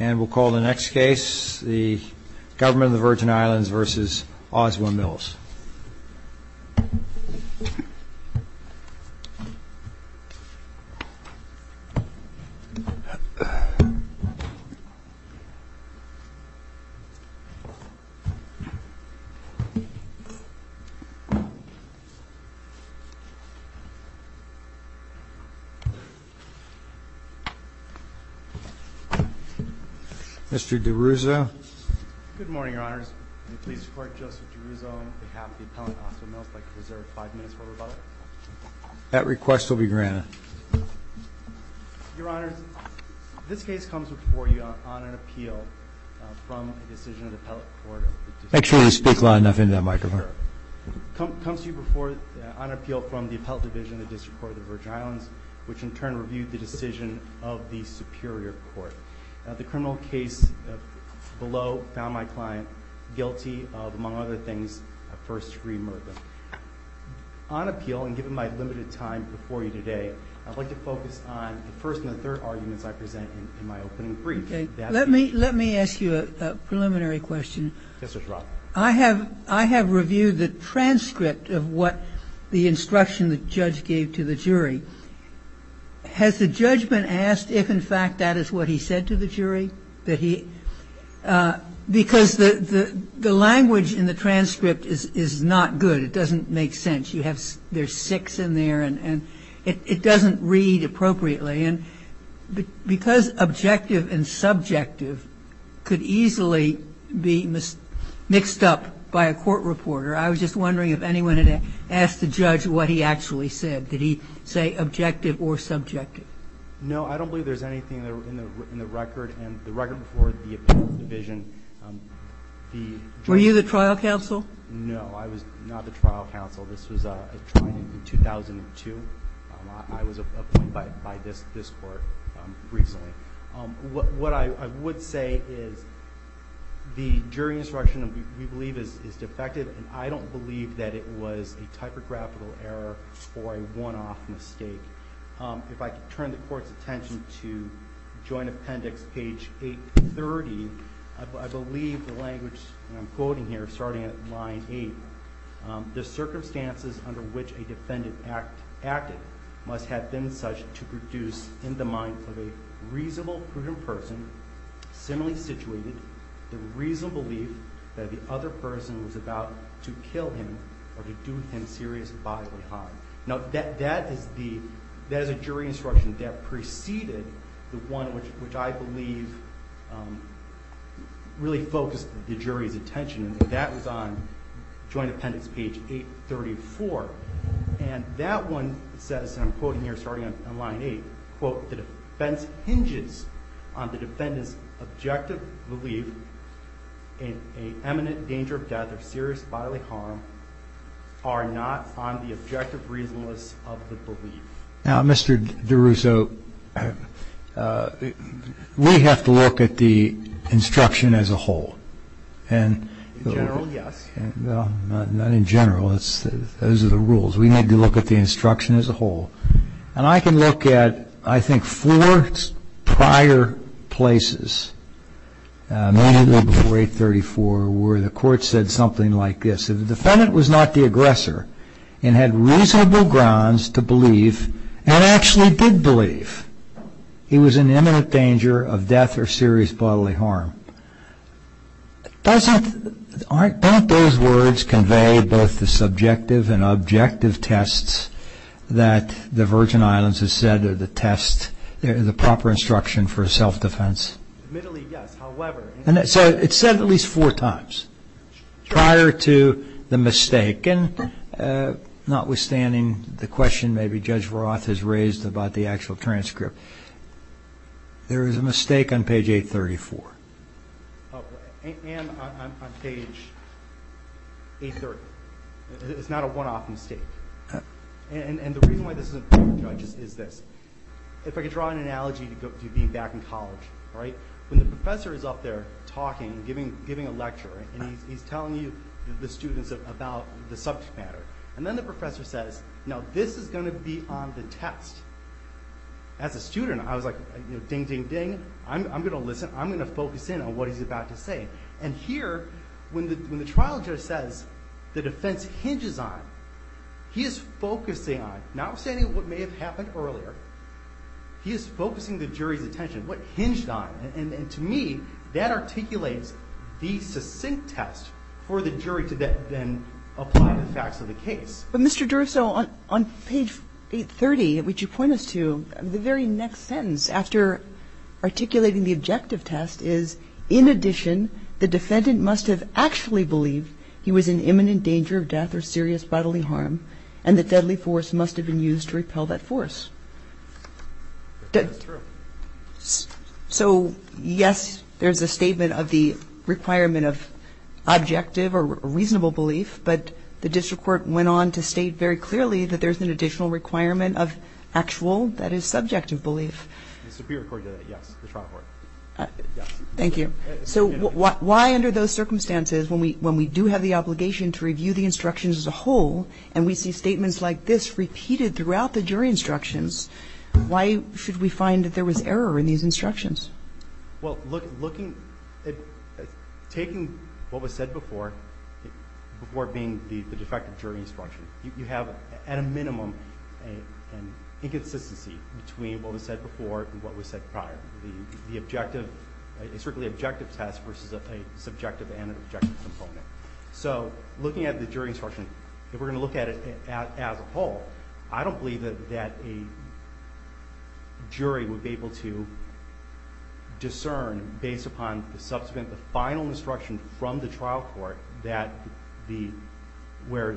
And we'll call the next case the Government of the Virgin Islands v. Oswald Mills. Mr. DiRusso. Good morning, Your Honors. I'm pleased to report Joseph DiRusso on behalf of the appellant Oswald Mills would like to reserve five minutes for rebuttal. That request will be granted. Your Honors, this case comes before you on an appeal from a decision of the Appellate Court of the District Court of the Virgin Islands. Make sure you speak loud enough into that microphone. Yes, sir. It comes to you before you on an appeal from the Appellate Division of the District Court of the Virgin Islands, which in turn reviewed the decision of the Superior Court. The criminal case below found my client guilty of, among other things, first-degree murder. On appeal, and given my limited time before you today, I'd like to focus on the first and the third arguments I present in my opening brief. Okay. Let me ask you a preliminary question. Yes, sir. I have reviewed the transcript of what the instruction the judge gave to the jury. Has the judgment asked if, in fact, that is what he said to the jury? Because the language in the transcript is not good. It doesn't make sense. There's six in there, and it doesn't read appropriately. And because objective and subjective could easily be mixed up by a court reporter, I was just wondering if anyone had asked the judge what he actually said. Did he say objective or subjective? No, I don't believe there's anything in the record. And the record before the Appellate Division, the jury ---- Were you the trial counsel? No, I was not the trial counsel. This was a trial in 2002. I was appointed by this court recently. What I would say is the jury instruction, we believe, is defective, and I don't believe that it was a typographical error or a one-off mistake. If I could turn the Court's attention to Joint Appendix, page 830, I believe the language I'm quoting here, starting at line 8, the circumstances under which a defendant acted must have been such to produce in the mind of a reasonable, prudent person similarly situated the reasonable belief that the other person was about to kill him or to do him serious bodily harm. Now, that is a jury instruction that preceded the one which I believe really focused the jury's attention. And that was on Joint Appendix, page 834. And that one says, and I'm quoting here, starting on line 8, quote, the defense hinges on the defendant's objective belief in an imminent danger of death or serious bodily harm are not on the objective reasonableness of the belief. Now, Mr. DeRusso, we have to look at the instruction as a whole. In general, yes. Well, not in general. Those are the rules. We need to look at the instruction as a whole. And I can look at, I think, four prior places, mainly before 834, where the Court said something like this. If the defendant was not the aggressor and had reasonable grounds to believe and actually did believe he was in imminent danger of death or serious bodily harm, doesn't those words convey both the subjective and objective tests that the Virgin Islands has said are the test, the proper instruction for self-defense? Admittedly, yes. However. So it's said at least four times prior to the mistake. Second, notwithstanding the question maybe Judge Roth has raised about the actual transcript, there is a mistake on page 834. And on page 830. It's not a one-off mistake. And the reason why this is important, Judge, is this. If I could draw an analogy to being back in college, right? When the professor is up there talking, giving a lecture, and he's telling you, the students, about the subject matter. And then the professor says, now this is going to be on the test. As a student, I was like, ding, ding, ding. I'm going to listen. I'm going to focus in on what he's about to say. And here, when the trial judge says the defense hinges on, he is focusing on, notwithstanding what may have happened earlier, he is focusing the jury's attention, what hinged on. And to me, that articulates the succinct test for the jury to then apply the facts of the case. But, Mr. Durso, on page 830, which you point us to, the very next sentence after articulating the objective test is, in addition, the defendant must have actually believed he was in imminent danger of death or serious bodily harm, and the deadly force must have been used to repel that force. That's true. So, yes, there's a statement of the requirement of objective or reasonable belief, but the district court went on to state very clearly that there's an additional requirement of actual, that is, subjective belief. The Superior Court did it, yes, the trial court. Thank you. So why, under those circumstances, when we do have the obligation to review the instructions as a whole, and we see statements like this repeated throughout the jury instructions, why should we find that there was error in these instructions? Well, looking, taking what was said before, before being the defective jury instruction, you have, at a minimum, an inconsistency between what was said before and what was said prior. The objective, a strictly objective test versus a subjective and an objective component. So looking at the jury instruction, if we're going to look at it as a whole, I don't believe that a jury would be able to discern, based upon the subsequent, the final instruction from the trial court, where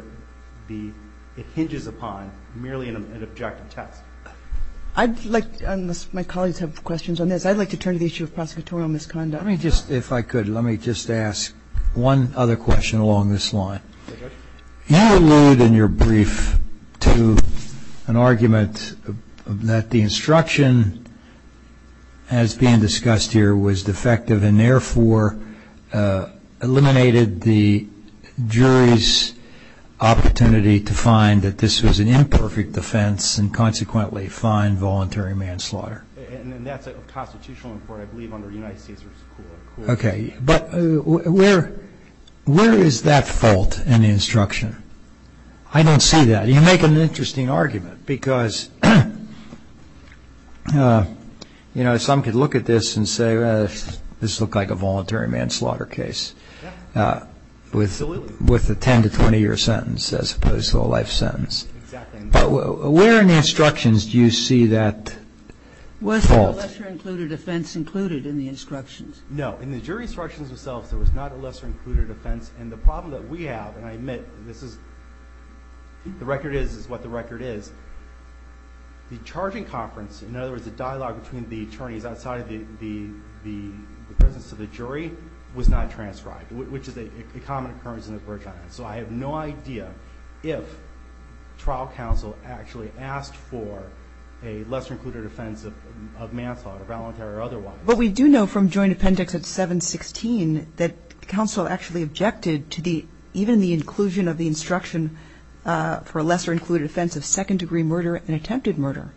it hinges upon merely an objective test. I'd like, unless my colleagues have questions on this, I'd like to turn to the issue of prosecutorial misconduct. Let me just, if I could, let me just ask one other question along this line. You allude in your brief to an argument that the instruction as being discussed here was defective and therefore eliminated the jury's opportunity to find that this was an imperfect defense and consequently find voluntary manslaughter. And that's a constitutional important, I believe, under United States rule. Okay. But where is that fault in the instruction? I don't see that. You make an interesting argument because, you know, some could look at this and say, well, this looks like a voluntary manslaughter case. Absolutely. With a 10 to 20 year sentence as opposed to a life sentence. Exactly. But where in the instructions do you see that fault? Was there a lesser included offense included in the instructions? No. In the jury instructions themselves, there was not a lesser included offense. And the problem that we have, and I admit, this is, the record is what the record is, the charging conference, in other words, the dialogue between the attorneys outside of the presence of the jury, was not transcribed, which is a common occurrence in the British Islands. So I have no idea if trial counsel actually asked for a lesser included offense of manslaughter, voluntary or otherwise. But we do know from joint appendix at 716 that counsel actually objected to the, even the inclusion of the instruction for a lesser included offense of second degree murder and attempted murder.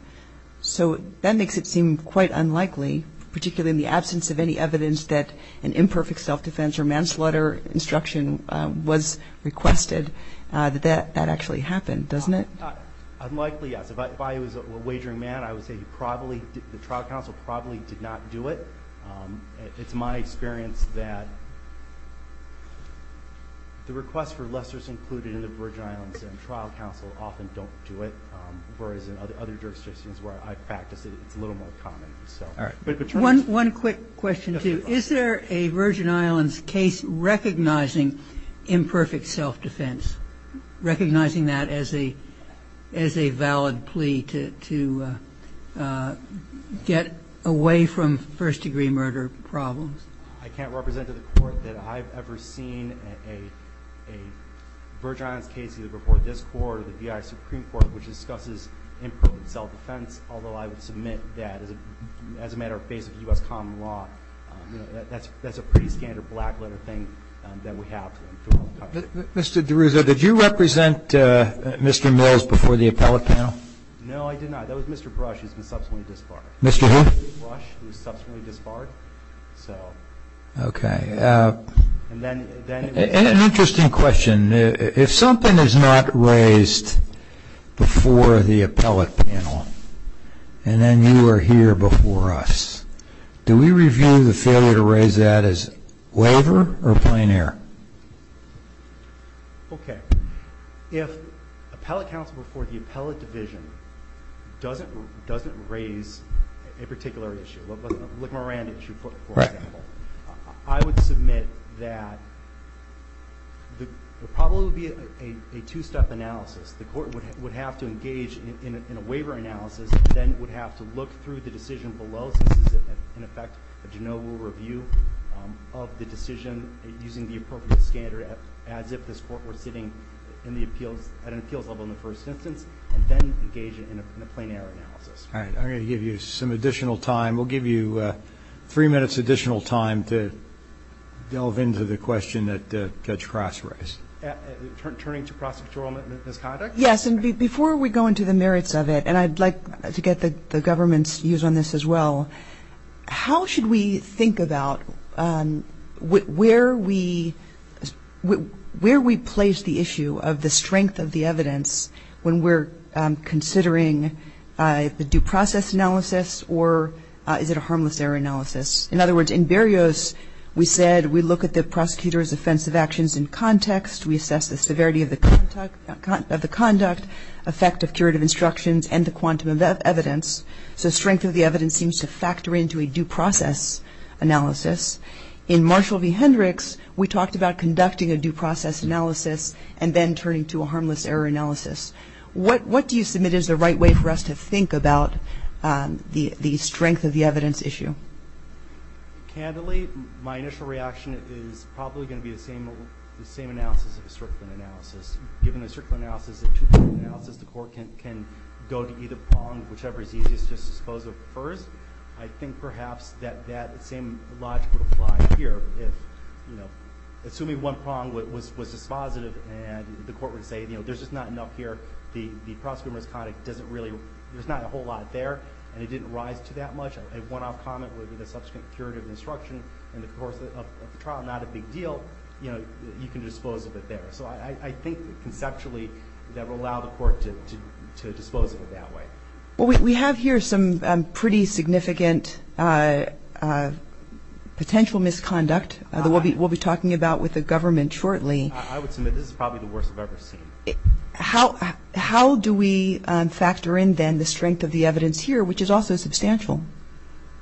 So that makes it seem quite unlikely, particularly in the absence of any evidence that an imperfect self-defense or manslaughter instruction was requested, that that actually happened, doesn't it? Unlikely, yes. If I was a wagering man, I would say probably, the trial counsel probably did not do it. It's my experience that the requests for lessers included in the Virgin Islands and trial counsel often don't do it, whereas in other jurisdictions where I practice it, it's a little more common. All right. One quick question, too. Is there a Virgin Islands case recognizing imperfect self-defense, recognizing that as a valid plea to get away from first degree murder problems? I can't represent to the Court that I've ever seen a Virgin Islands case either before this Court or the B.I. Supreme Court which discusses imperfect self-defense, although I would submit that as a matter of basic U.S. common law. That's a pretty standard black letter thing that we have. Mr. DeRuzo, did you represent Mr. Mills before the appellate panel? No, I did not. That was Mr. Brush, who has been subsequently disbarred. Mr. who? Mr. Brush, who was subsequently disbarred. Okay. And an interesting question. If something is not raised before the appellate panel and then you are here before us, do we review the failure to raise that as waiver or plein air? Okay. If appellate counsel before the appellate division doesn't raise a particular issue, like Miranda, for example, I would submit that there probably would be a two-step analysis. The Court would have to engage in a waiver analysis, then would have to look through the decision below since this is, in effect, a general review of the decision using the appropriate standard as if this Court were sitting at an appeals level in the first instance, and then engage in a plein air analysis. All right. I'm going to give you some additional time. We'll give you three minutes additional time to delve into the question that Judge Cross raised. Turning to prosecutorial misconduct? Yes. And before we go into the merits of it, and I'd like to get the government's views on this as well, how should we think about where we place the issue of the strength of the evidence when we're considering the due process analysis or is it a harmless error analysis? In other words, in Berrios, we said we look at the prosecutor's offensive actions in context. We assess the severity of the conduct, effect of curative instructions, and the quantum of evidence. So strength of the evidence seems to factor into a due process analysis. In Marshall v. Hendricks, we talked about conducting a due process analysis and then turning to a harmless error analysis. What do you submit is the right way for us to think about the strength of the evidence issue? Candidly, my initial reaction is probably going to be the same analysis of a Strickland analysis. Given a Strickland analysis, a two-pronged analysis, the Court can go to either prong, whichever is easiest to dispose of first. I think perhaps that that same logic would apply here. Assuming one prong was dispositive and the Court would say there's just not enough here, the prosecutor's conduct doesn't really, there's not a whole lot there, and it didn't rise to that much, a one-off comment with a subsequent curative instruction in the course of the trial, not a big deal, you can dispose of it there. So I think conceptually that would allow the Court to dispose of it that way. Well, we have here some pretty significant potential misconduct that we'll be talking about with the government shortly. I would submit this is probably the worst I've ever seen. How do we factor in then the strength of the evidence here, which is also substantial?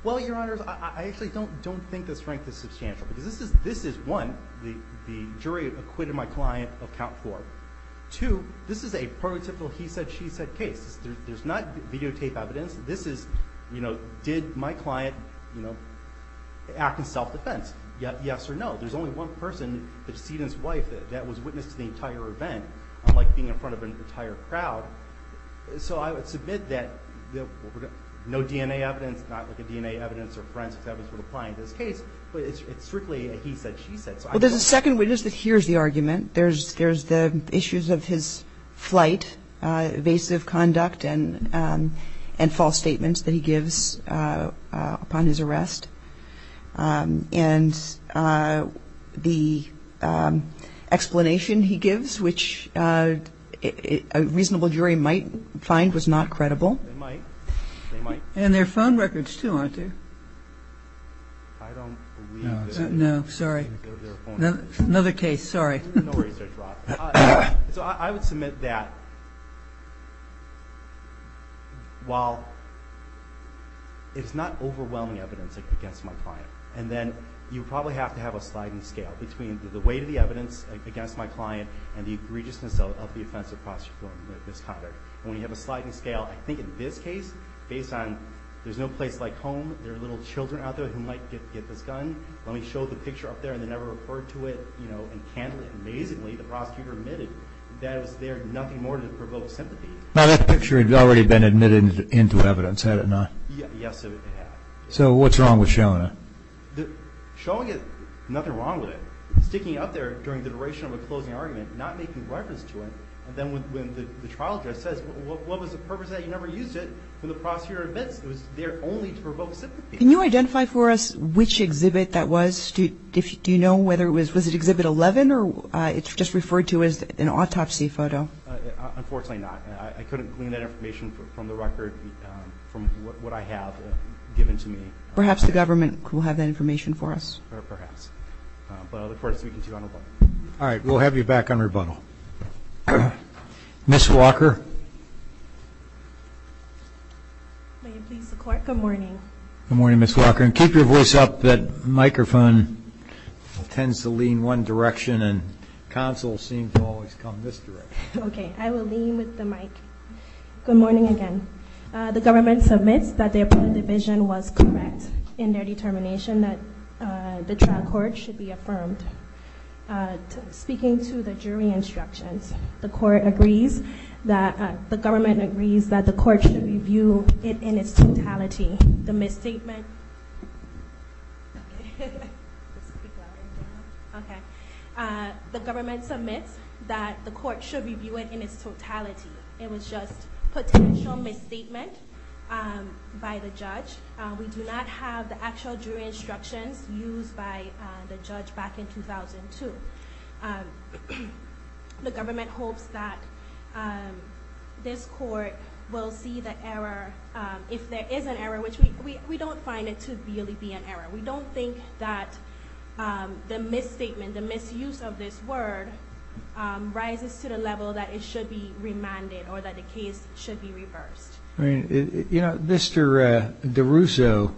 Well, Your Honors, I actually don't think the strength is substantial, because this is, one, the jury acquitted my client of count four. Two, this is a prototypical he said, she said case. There's not videotape evidence. This is, you know, did my client, you know, act in self-defense? Yes or no? There's only one person, the decedent's wife, that was witness to the entire event, unlike being in front of an entire crowd. So I would submit that no DNA evidence, not like a DNA evidence or forensics evidence would apply in this case, but it's strictly a he said, she said. Well, there's a second witness that hears the argument. There's the issues of his flight, evasive conduct, and false statements that he gives upon his arrest. And the explanation he gives, which a reasonable jury might find was not credible. They might. And their phone records too, aren't they? I don't believe that. No, sorry. Another case, sorry. So I would submit that while it's not overwhelming evidence against my client, and then you probably have to have a sliding scale between the weight of the evidence against my client and the egregiousness of the offense of prostitution or misconduct. And when you have a sliding scale, I think in this case, based on there's no place like home, there are little children out there who might get this gun. Let me show the picture up there, and they never referred to it. And candidly, amazingly, the prosecutor admitted that it was there, nothing more than to provoke sympathy. Now, that picture had already been admitted into evidence, had it not? Yes, it had. So what's wrong with showing it? Showing it, nothing wrong with it. Sticking it up there during the duration of a closing argument, not making reference to it. And then when the trial judge says, what was the purpose of that? You never used it. And the prosecutor admits it was there only to provoke sympathy. Can you identify for us which exhibit that was? Do you know whether it was exhibit 11 or it's just referred to as an autopsy photo? Unfortunately not. I couldn't glean that information from the record from what I have given to me. Perhaps the government will have that information for us. Or perhaps. But I look forward to speaking to you on rebuttal. All right, we'll have you back on rebuttal. Ms. Walker. May it please the Court, good morning. Good morning, Ms. Walker. And keep your voice up, that microphone tends to lean one direction and counsels seem to always come this direction. Okay, I will lean with the mic. Good morning again. The government submits that the appellate division was correct in their determination that the trial court should be affirmed. Speaking to the jury instructions, the government agrees that the court should review it in its totality. The government submits that the court should review it in its totality. It was just a potential misstatement by the judge. We do not have the actual jury instructions used by the judge back in 2002. The government hopes that this court will see the error, if there is an error, which we don't find it to really be an error. We don't think that the misstatement, the misuse of this word, rises to the level that it should be remanded or that the case should be reversed. You know, Mr. DeRusso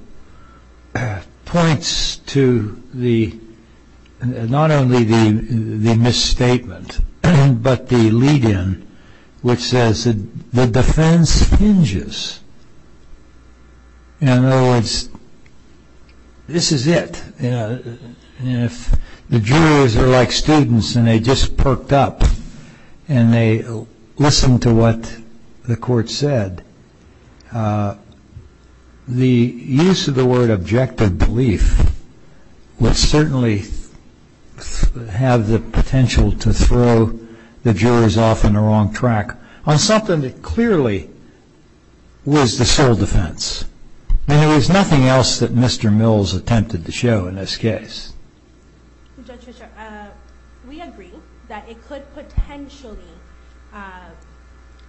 points to not only the misstatement, but the lead-in, which says that the defense hinges. In other words, this is it. If the jurors are like students and they just perked up and they listened to what the court said, the use of the word objective belief would certainly have the potential to throw the jurors off on the wrong track on something that clearly was the sole defense. There was nothing else that Mr. Mills attempted to show in this case. Judge Fisher, we agree that it could potentially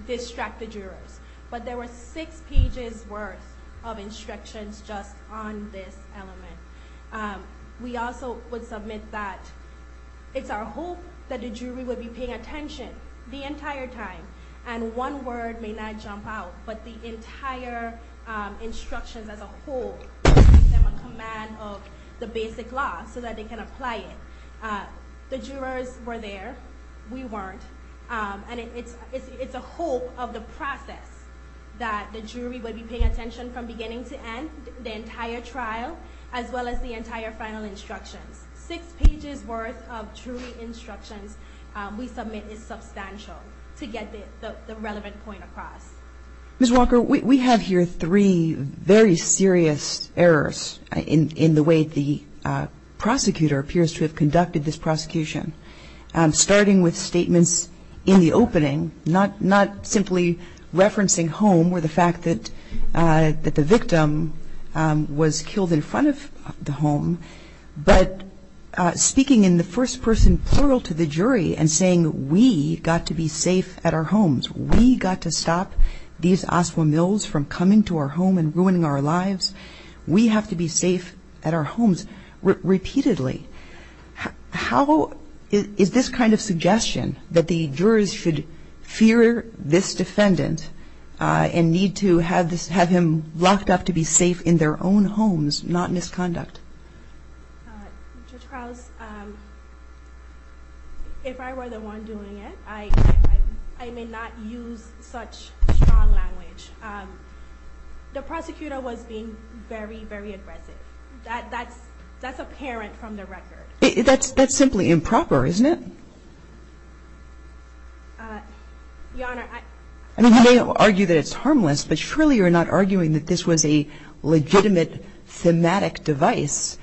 distract the jurors, but there were six pages worth of instructions just on this element. We also would submit that it's our hope that the jury would be paying attention the entire time, and one word may not jump out, but the entire instructions as a whole give them a command of the basic law so that they can apply it. The jurors were there. We weren't. And it's a hope of the process that the jury would be paying attention from beginning to end, the entire trial, as well as the entire final instructions. Six pages worth of jury instructions we submit is substantial to get the relevant point across. Ms. Walker, we have here three very serious errors in the way the prosecutor appears to have conducted this prosecution, starting with statements in the opening, not simply referencing home or the fact that the victim was killed in front of the home, but speaking in the first person plural to the jury and saying we got to be safe at our homes. We got to stop these Oswald Mills from coming to our home and ruining our lives. We have to be safe at our homes repeatedly. How is this kind of suggestion that the jurors should fear this defendant and need to have him locked up to be safe in their own homes, not misconduct? Judge Krause, if I were the one doing it, I may not use such strong language. The prosecutor was being very, very aggressive. That's apparent from the record. That's simply improper, isn't it? Your Honor, I— I mean, you may argue that it's harmless, but surely you're not arguing that this was a legitimate thematic device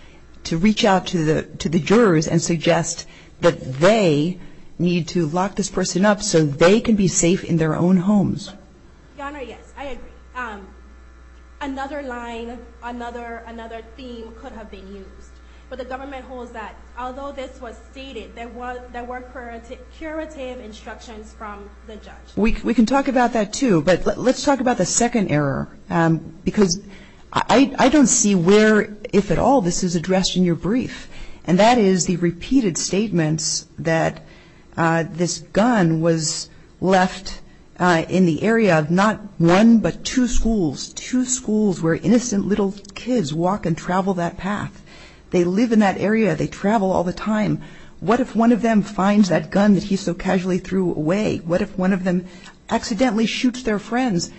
to reach out to the jurors and suggest that they need to lock this person up so they can be safe in their own homes. Your Honor, yes, I agree. Another line, another theme could have been used, but the government holds that although this was stated, there were curative instructions from the judge. We can talk about that, too, but let's talk about the second error because I don't see where, if at all, this is addressed in your brief, and that is the repeated statements that this gun was left in the area of not one, but two schools, two schools where innocent little kids walk and travel that path. They live in that area. They travel all the time. What if one of them finds that gun that he so casually threw away? What if one of them accidentally shoots their friends?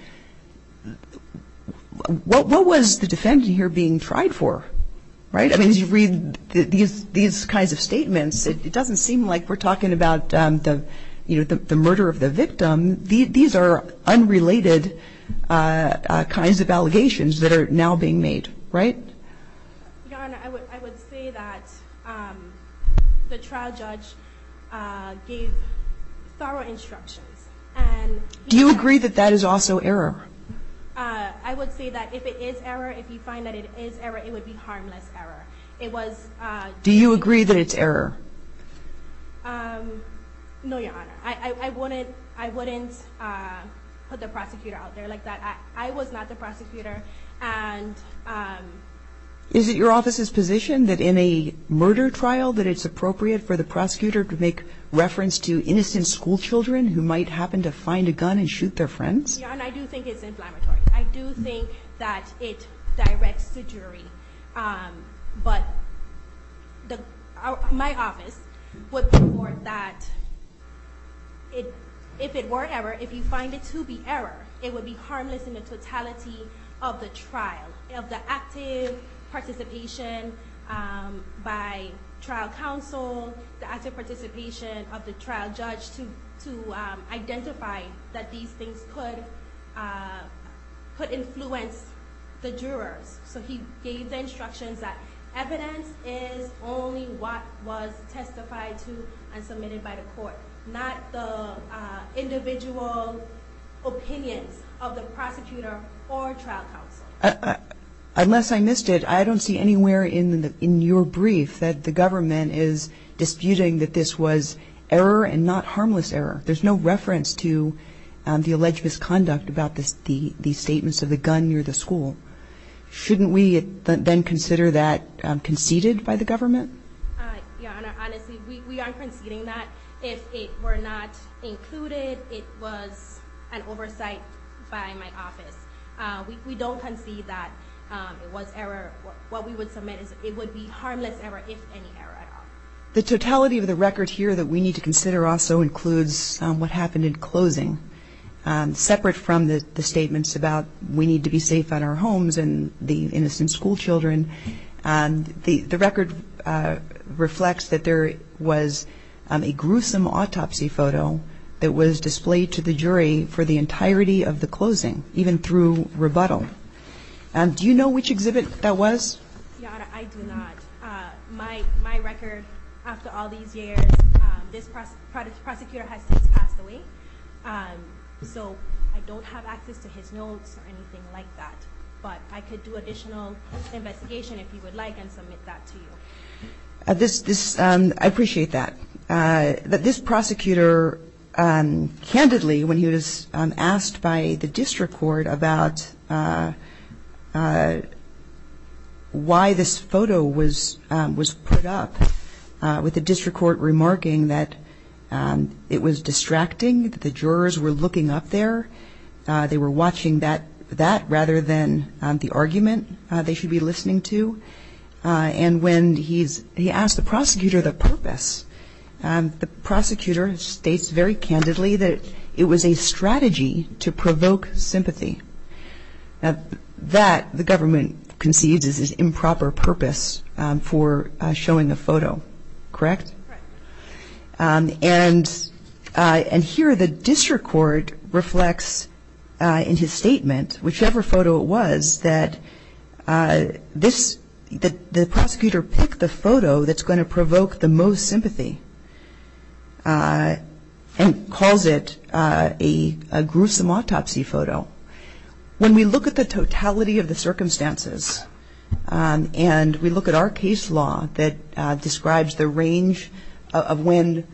What was the defendant here being tried for, right? I mean, as you read these kinds of statements, it doesn't seem like we're talking about the murder of the victim. These are unrelated kinds of allegations that are now being made, right? Your Honor, I would say that the trial judge gave thorough instructions. Do you agree that that is also error? I would say that if it is error, if you find that it is error, it would be harmless error. Do you agree that it's error? No, Your Honor. I wouldn't put the prosecutor out there like that. I was not the prosecutor. Is it your office's position that in a murder trial that it's appropriate for the prosecutor to make reference to innocent schoolchildren who might happen to find a gun and shoot their friends? Your Honor, I do think it's inflammatory. I do think that it directs the jury. But my office would report that if it were error, if you find it to be error, it would be harmless in the totality of the trial, of the active participation by trial counsel, the active participation of the trial judge to identify that these things could influence the jurors. So he gave the instructions that evidence is only what was testified to and submitted by the court, not the individual opinions of the prosecutor or trial counsel. Unless I missed it, I don't see anywhere in your brief that the government is disputing that this was error and not harmless error. There's no reference to the alleged misconduct about the statements of the gun near the school. Shouldn't we then consider that conceded by the government? Your Honor, honestly, we aren't conceding that. If it were not included, it was an oversight by my office. We don't concede that it was error. What we would submit is it would be harmless error, if any error at all. The totality of the record here that we need to consider also includes what happened in closing. Separate from the statements about we need to be safe at our homes and the innocent schoolchildren, the record reflects that there was a gruesome autopsy photo that was displayed to the jury for the entirety of the closing, even through rebuttal. Do you know which exhibit that was? Your Honor, I do not. My record, after all these years, this prosecutor has since passed away. So I don't have access to his notes or anything like that. But I could do additional investigation if you would like and submit that to you. I appreciate that. This prosecutor candidly, when he was asked by the district court about why this photo was put up, with the district court remarking that it was distracting, that the jurors were looking up there, they were watching that rather than the argument they should be listening to. And when he asked the prosecutor the purpose, the prosecutor states very candidly that it was a strategy to provoke sympathy. That, the government conceives, is improper purpose for showing a photo, correct? Correct. And here the district court reflects in his statement, whichever photo it was, that the prosecutor picked the photo that's going to provoke the most sympathy and calls it a gruesome autopsy photo. When we look at the totality of the circumstances and we look at our case law that describes the range of when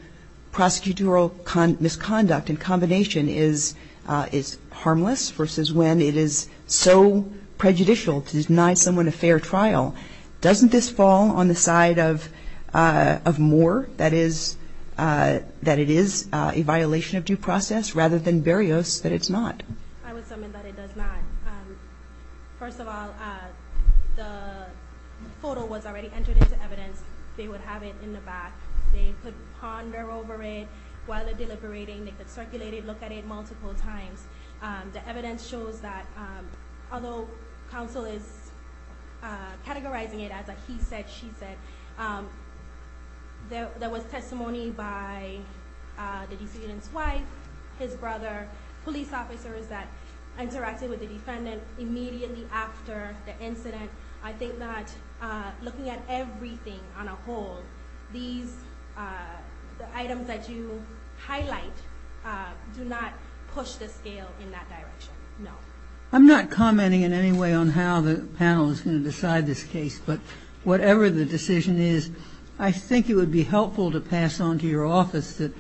prosecutorial misconduct in combination is harmless versus when it is so prejudicial to deny someone a fair trial, doesn't this fall on the side of Moore, that it is a violation of due process, rather than Berrios, that it's not? I would summon that it does not. First of all, the photo was already entered into evidence. They would have it in the back. They could ponder over it while they're deliberating. They could circulate it, look at it multiple times. The evidence shows that although counsel is categorizing it as a he said, she said, there was testimony by the defendant's wife, his brother, police officers that interacted with the defendant immediately after the incident. I think that looking at everything on a whole, these items that you highlight do not push the scale in that direction, no. I'm not commenting in any way on how the panel is going to decide this case, but whatever the decision is, I think it would be helpful to pass on to your office that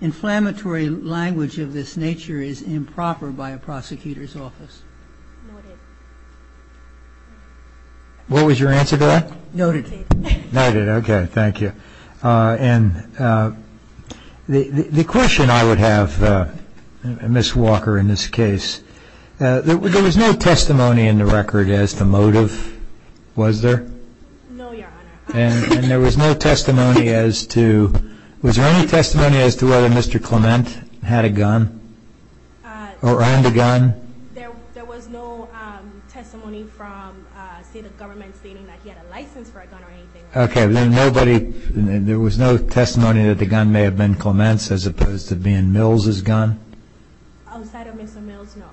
inflammatory language of this nature is improper by a prosecutor's office. Noted. What was your answer to that? Noted. Noted. Okay. Thank you. And the question I would have, Ms. Walker, in this case, there was no testimony in the record as to motive, was there? No, Your Honor. And there was no testimony as to, was there any testimony as to whether Mr. Clement had a gun or owned a gun? There was no testimony from, say, the government stating that he had a license for a gun or anything. Okay. There was no testimony that the gun may have been Clement's as opposed to being Mills' gun? Outside of Mr. Mills, no.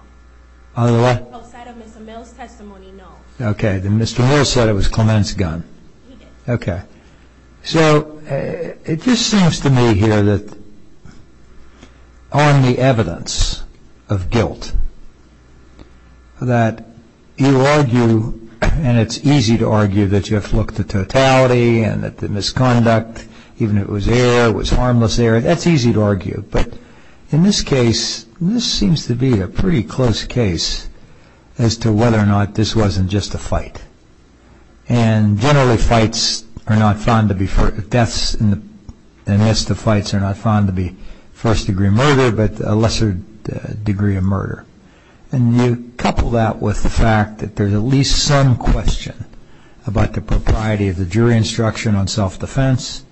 Outside of Mr. Mills' testimony, no. Okay. And Mr. Mills said it was Clement's gun. Okay. So it just seems to me here that on the evidence of guilt that you argue, and it's easy to argue that you have looked at totality and that the misconduct, even if it was there, it was harmless there, that's easy to argue. But in this case, this seems to be a pretty close case as to whether or not this wasn't just a fight. And generally fights are not found to be, deaths in the midst of fights are not found to be first degree murder, but a lesser degree of murder. And you couple that with the fact that there's at least some question about the propriety of the jury instruction on self-defense,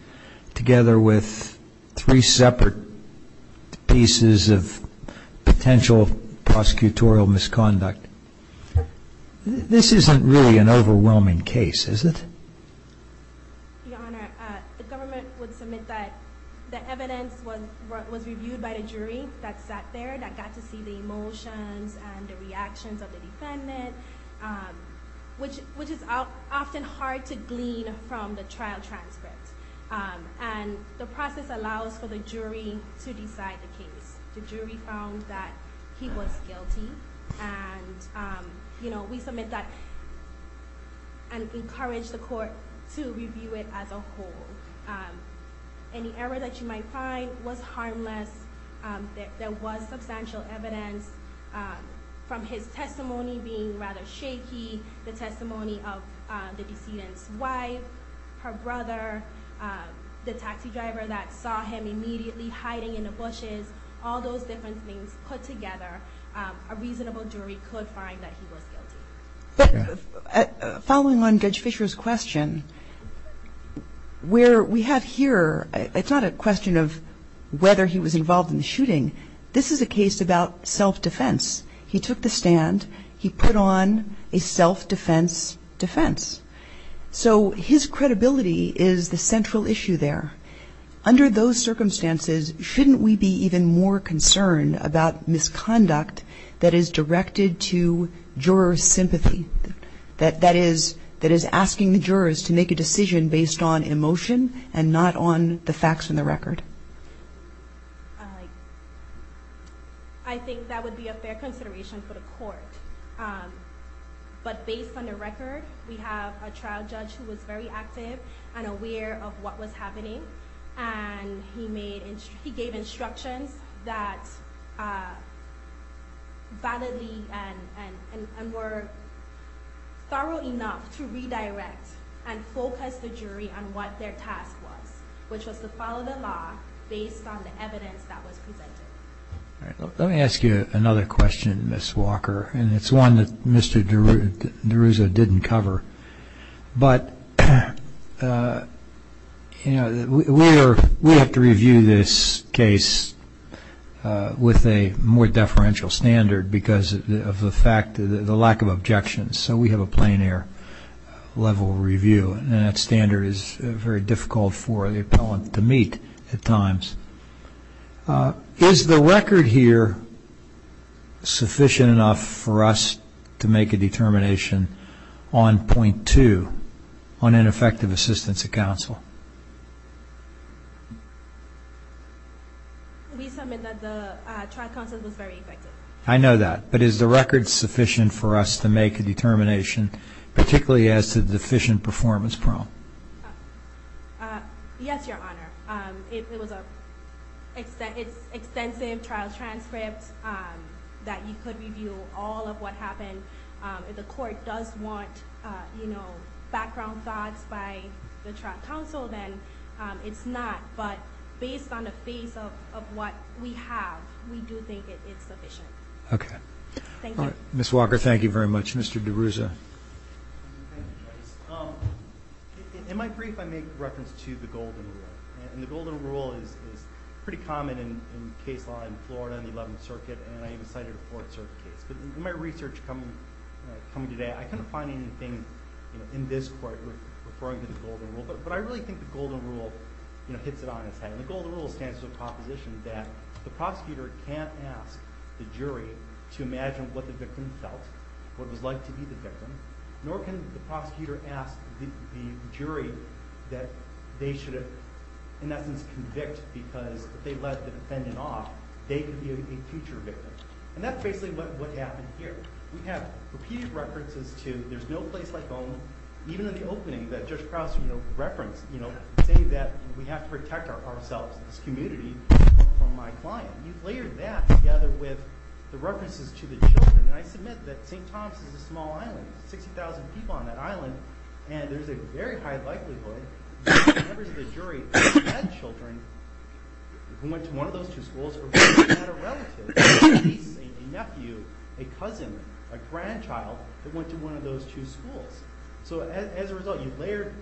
together with three separate pieces of potential prosecutorial misconduct. This isn't really an overwhelming case, is it? Your Honor, the government would submit that the evidence was reviewed by the jury that sat there, that got to see the emotions and the reactions of the defendant, which is often hard to glean from the trial transcript. And the process allows for the jury to decide the case. The jury found that he was guilty, and we submit that and encourage the court to review it as a whole. Any error that you might find was harmless, there was substantial evidence from his testimony being rather shaky, the testimony of the decedent's wife, her brother, the taxi driver that saw him immediately hiding in the bushes, all those different things put together, a reasonable jury could find that he was guilty. Following on Judge Fisher's question, where we have here, it's not a question of whether he was involved in the shooting. This is a case about self-defense. He took the stand, he put on a self-defense defense. So his credibility is the central issue there. Under those circumstances, shouldn't we be even more concerned about misconduct that is directed to juror sympathy, that is asking the jurors to make a decision based on emotion and not on the facts in the record? I think that would be a fair consideration for the court. But based on the record, we have a trial judge who was very active and aware of what was happening, and he gave instructions that validly and were thorough enough to redirect and focus the jury on what their task was, which was to follow the law based on the evidence that was presented. Let me ask you another question, Ms. Walker, and it's one that Mr. DeRuzzo didn't cover. But we have to review this case with a more deferential standard because of the lack of objections. So we have a plein air level review, and that standard is very difficult for the appellant to meet at times. Is the record here sufficient enough for us to make a determination on point two, on ineffective assistance of counsel? We submit that the trial counsel was very effective. I know that. But is the record sufficient for us to make a determination, particularly as to the deficient performance problem? Yes, Your Honor. It was an extensive trial transcript that you could review all of what happened. If the court does want background thoughts by the trial counsel, then it's not. But based on the base of what we have, we do think it's sufficient. Okay. Thank you. Ms. Walker, thank you very much. Mr. DeRuzzo. In my brief, I make reference to the Golden Rule, and the Golden Rule is pretty common in case law in Florida and the Eleventh Circuit, and I even cited a fourth circuit case. But in my research coming today, I couldn't find anything in this court referring to the Golden Rule, but I really think the Golden Rule hits it on its head. The Golden Rule stands for the proposition that the prosecutor can't ask the jury to imagine what the victim felt, what it was like to be the victim, nor can the prosecutor ask the jury that they should have, in essence, convict because if they let the defendant off, they could be a future victim. And that's basically what happened here. We have repeated references to there's no place like home, even in the opening that Judge Krause referenced, saying that we have to protect ourselves, this community, from my client. You've layered that together with the references to the children, and I submit that St. Thomas is a small island, 60,000 people on that island, and there's a very high likelihood that members of the jury had children who went to one of those two schools or who had a relative, a niece, a nephew, a cousin, a grandchild that went to one of those two schools. So as a result, you've layered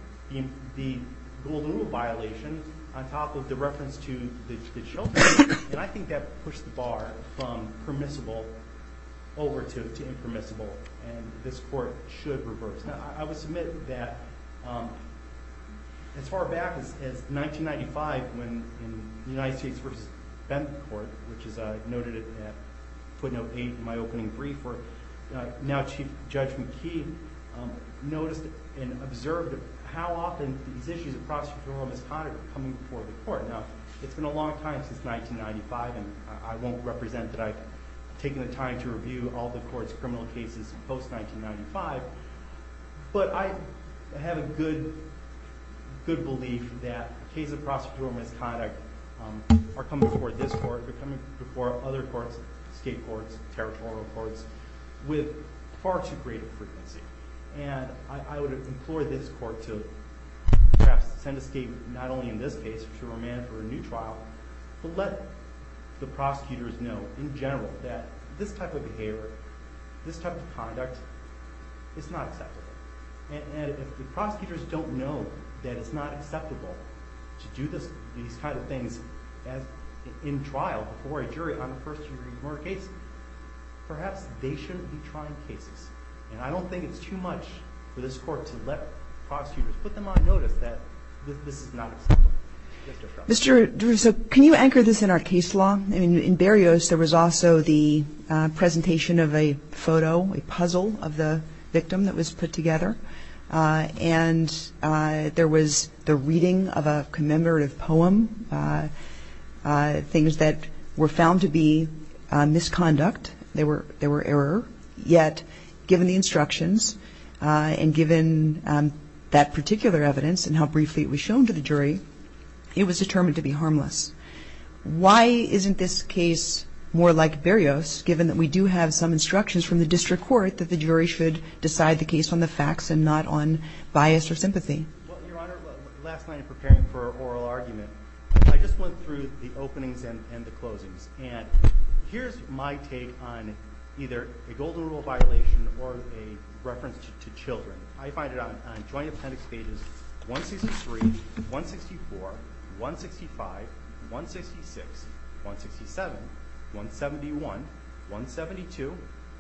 the Golden Rule violation on top of the reference to the children, and I think that pushed the bar from permissible over to impermissible, and this court should reverse. I would submit that as far back as 1995, when the United States v. Bentham Court, which is noted at footnote 8 in my opening brief, where now Chief Judge McKee noticed and observed how often these issues of prosecutorial misconduct were coming before the court. Now, it's been a long time since 1995, and I won't represent that I've taken the time to review all the court's criminal cases post-1995, but I have a good belief that cases of prosecutorial misconduct are coming before this court, they're coming before other courts, state courts, territorial courts, with far too great a frequency. And I would implore this court to perhaps send a statement, not only in this case to remand for a new trial, but let the prosecutors know in general that this type of behavior, this type of conduct, it's not acceptable. And if the prosecutors don't know that it's not acceptable to do these kind of things in trial before a jury on a first-degree murder case, perhaps they shouldn't be trying cases. And I don't think it's too much for this court to let prosecutors put them on notice that this is not acceptable. Mr. Frum. Mr. Drew, so can you anchor this in our case law? In Berrios, there was also the presentation of a photo, a puzzle of the victim that was put together, and there was the reading of a commemorative poem, things that were found to be misconduct, they were error, yet given the instructions and given that particular evidence and how briefly it was shown to the jury, it was determined to be harmless. Why isn't this case more like Berrios, given that we do have some instructions from the district court that the jury should decide the case on the facts and not on bias or sympathy? Well, Your Honor, last night in preparing for oral argument, I just went through the openings and the closings. And here's my take on either a golden rule violation or a reference to children. I find it on Joint Appendix pages 163, 164, 165, 166, 167, 171, 172,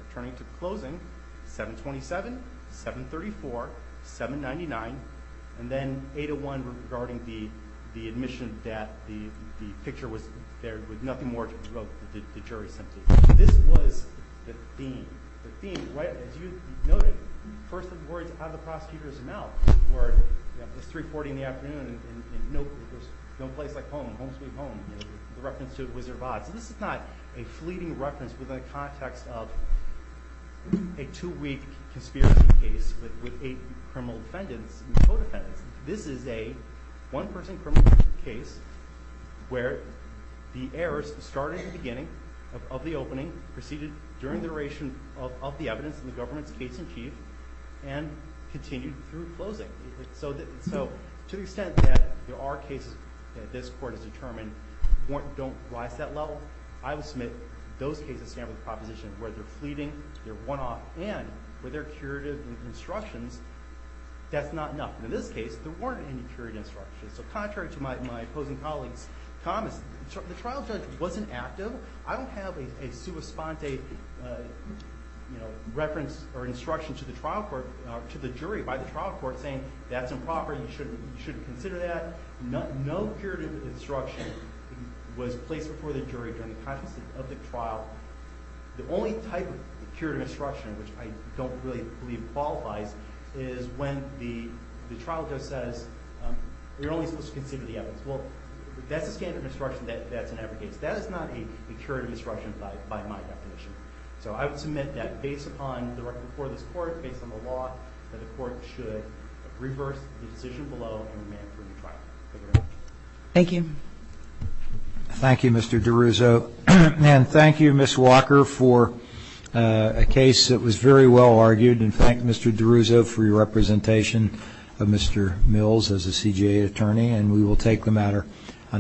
returning to closing, 727, 734, 799, and then 801 regarding the admission that the picture was there with nothing more to do with the jury's sympathy. This was the theme. The theme, as you noted, first of the words, have the prosecutors now, where it's 3.40 in the afternoon and there's no place like home, home sweet home, the reference to Wizard of Oz. This is not a fleeting reference within the context of a two-week conspiracy case with eight criminal defendants and co-defendants. This is a one-person criminal case where the heirs started at the beginning of the opening, proceeded during the duration of the evidence in the government's case-in-chief, and continued through closing. So to the extent that there are cases that this court has determined don't rise to that level, I will submit those cases stand with the proposition where they're fleeting, they're one-off, and with their curative instructions, that's not enough. In this case, there weren't any curative instructions. So contrary to my opposing colleague's comments, the trial judge wasn't active. I don't have a sua sponte reference or instruction to the jury by the trial court saying that's improper, you shouldn't consider that. No curative instruction was placed before the jury during the context of the trial. The only type of curative instruction which I don't really believe qualifies is when the trial judge says you're only supposed to consider the evidence. Well, that's a standard instruction that's in every case. That is not a curative instruction by my definition. So I would submit that based upon the record before this court, based on the law, that the court should reverse the decision below and remand for a new trial. Thank you. Thank you. Thank you, Mr. DeRuzo. And thank you, Ms. Walker, for a case that was very well argued. And thank you, Mr. DeRuzo, for your representation of Mr. Mills as a CJA attorney. And we will take the matter under adjournment.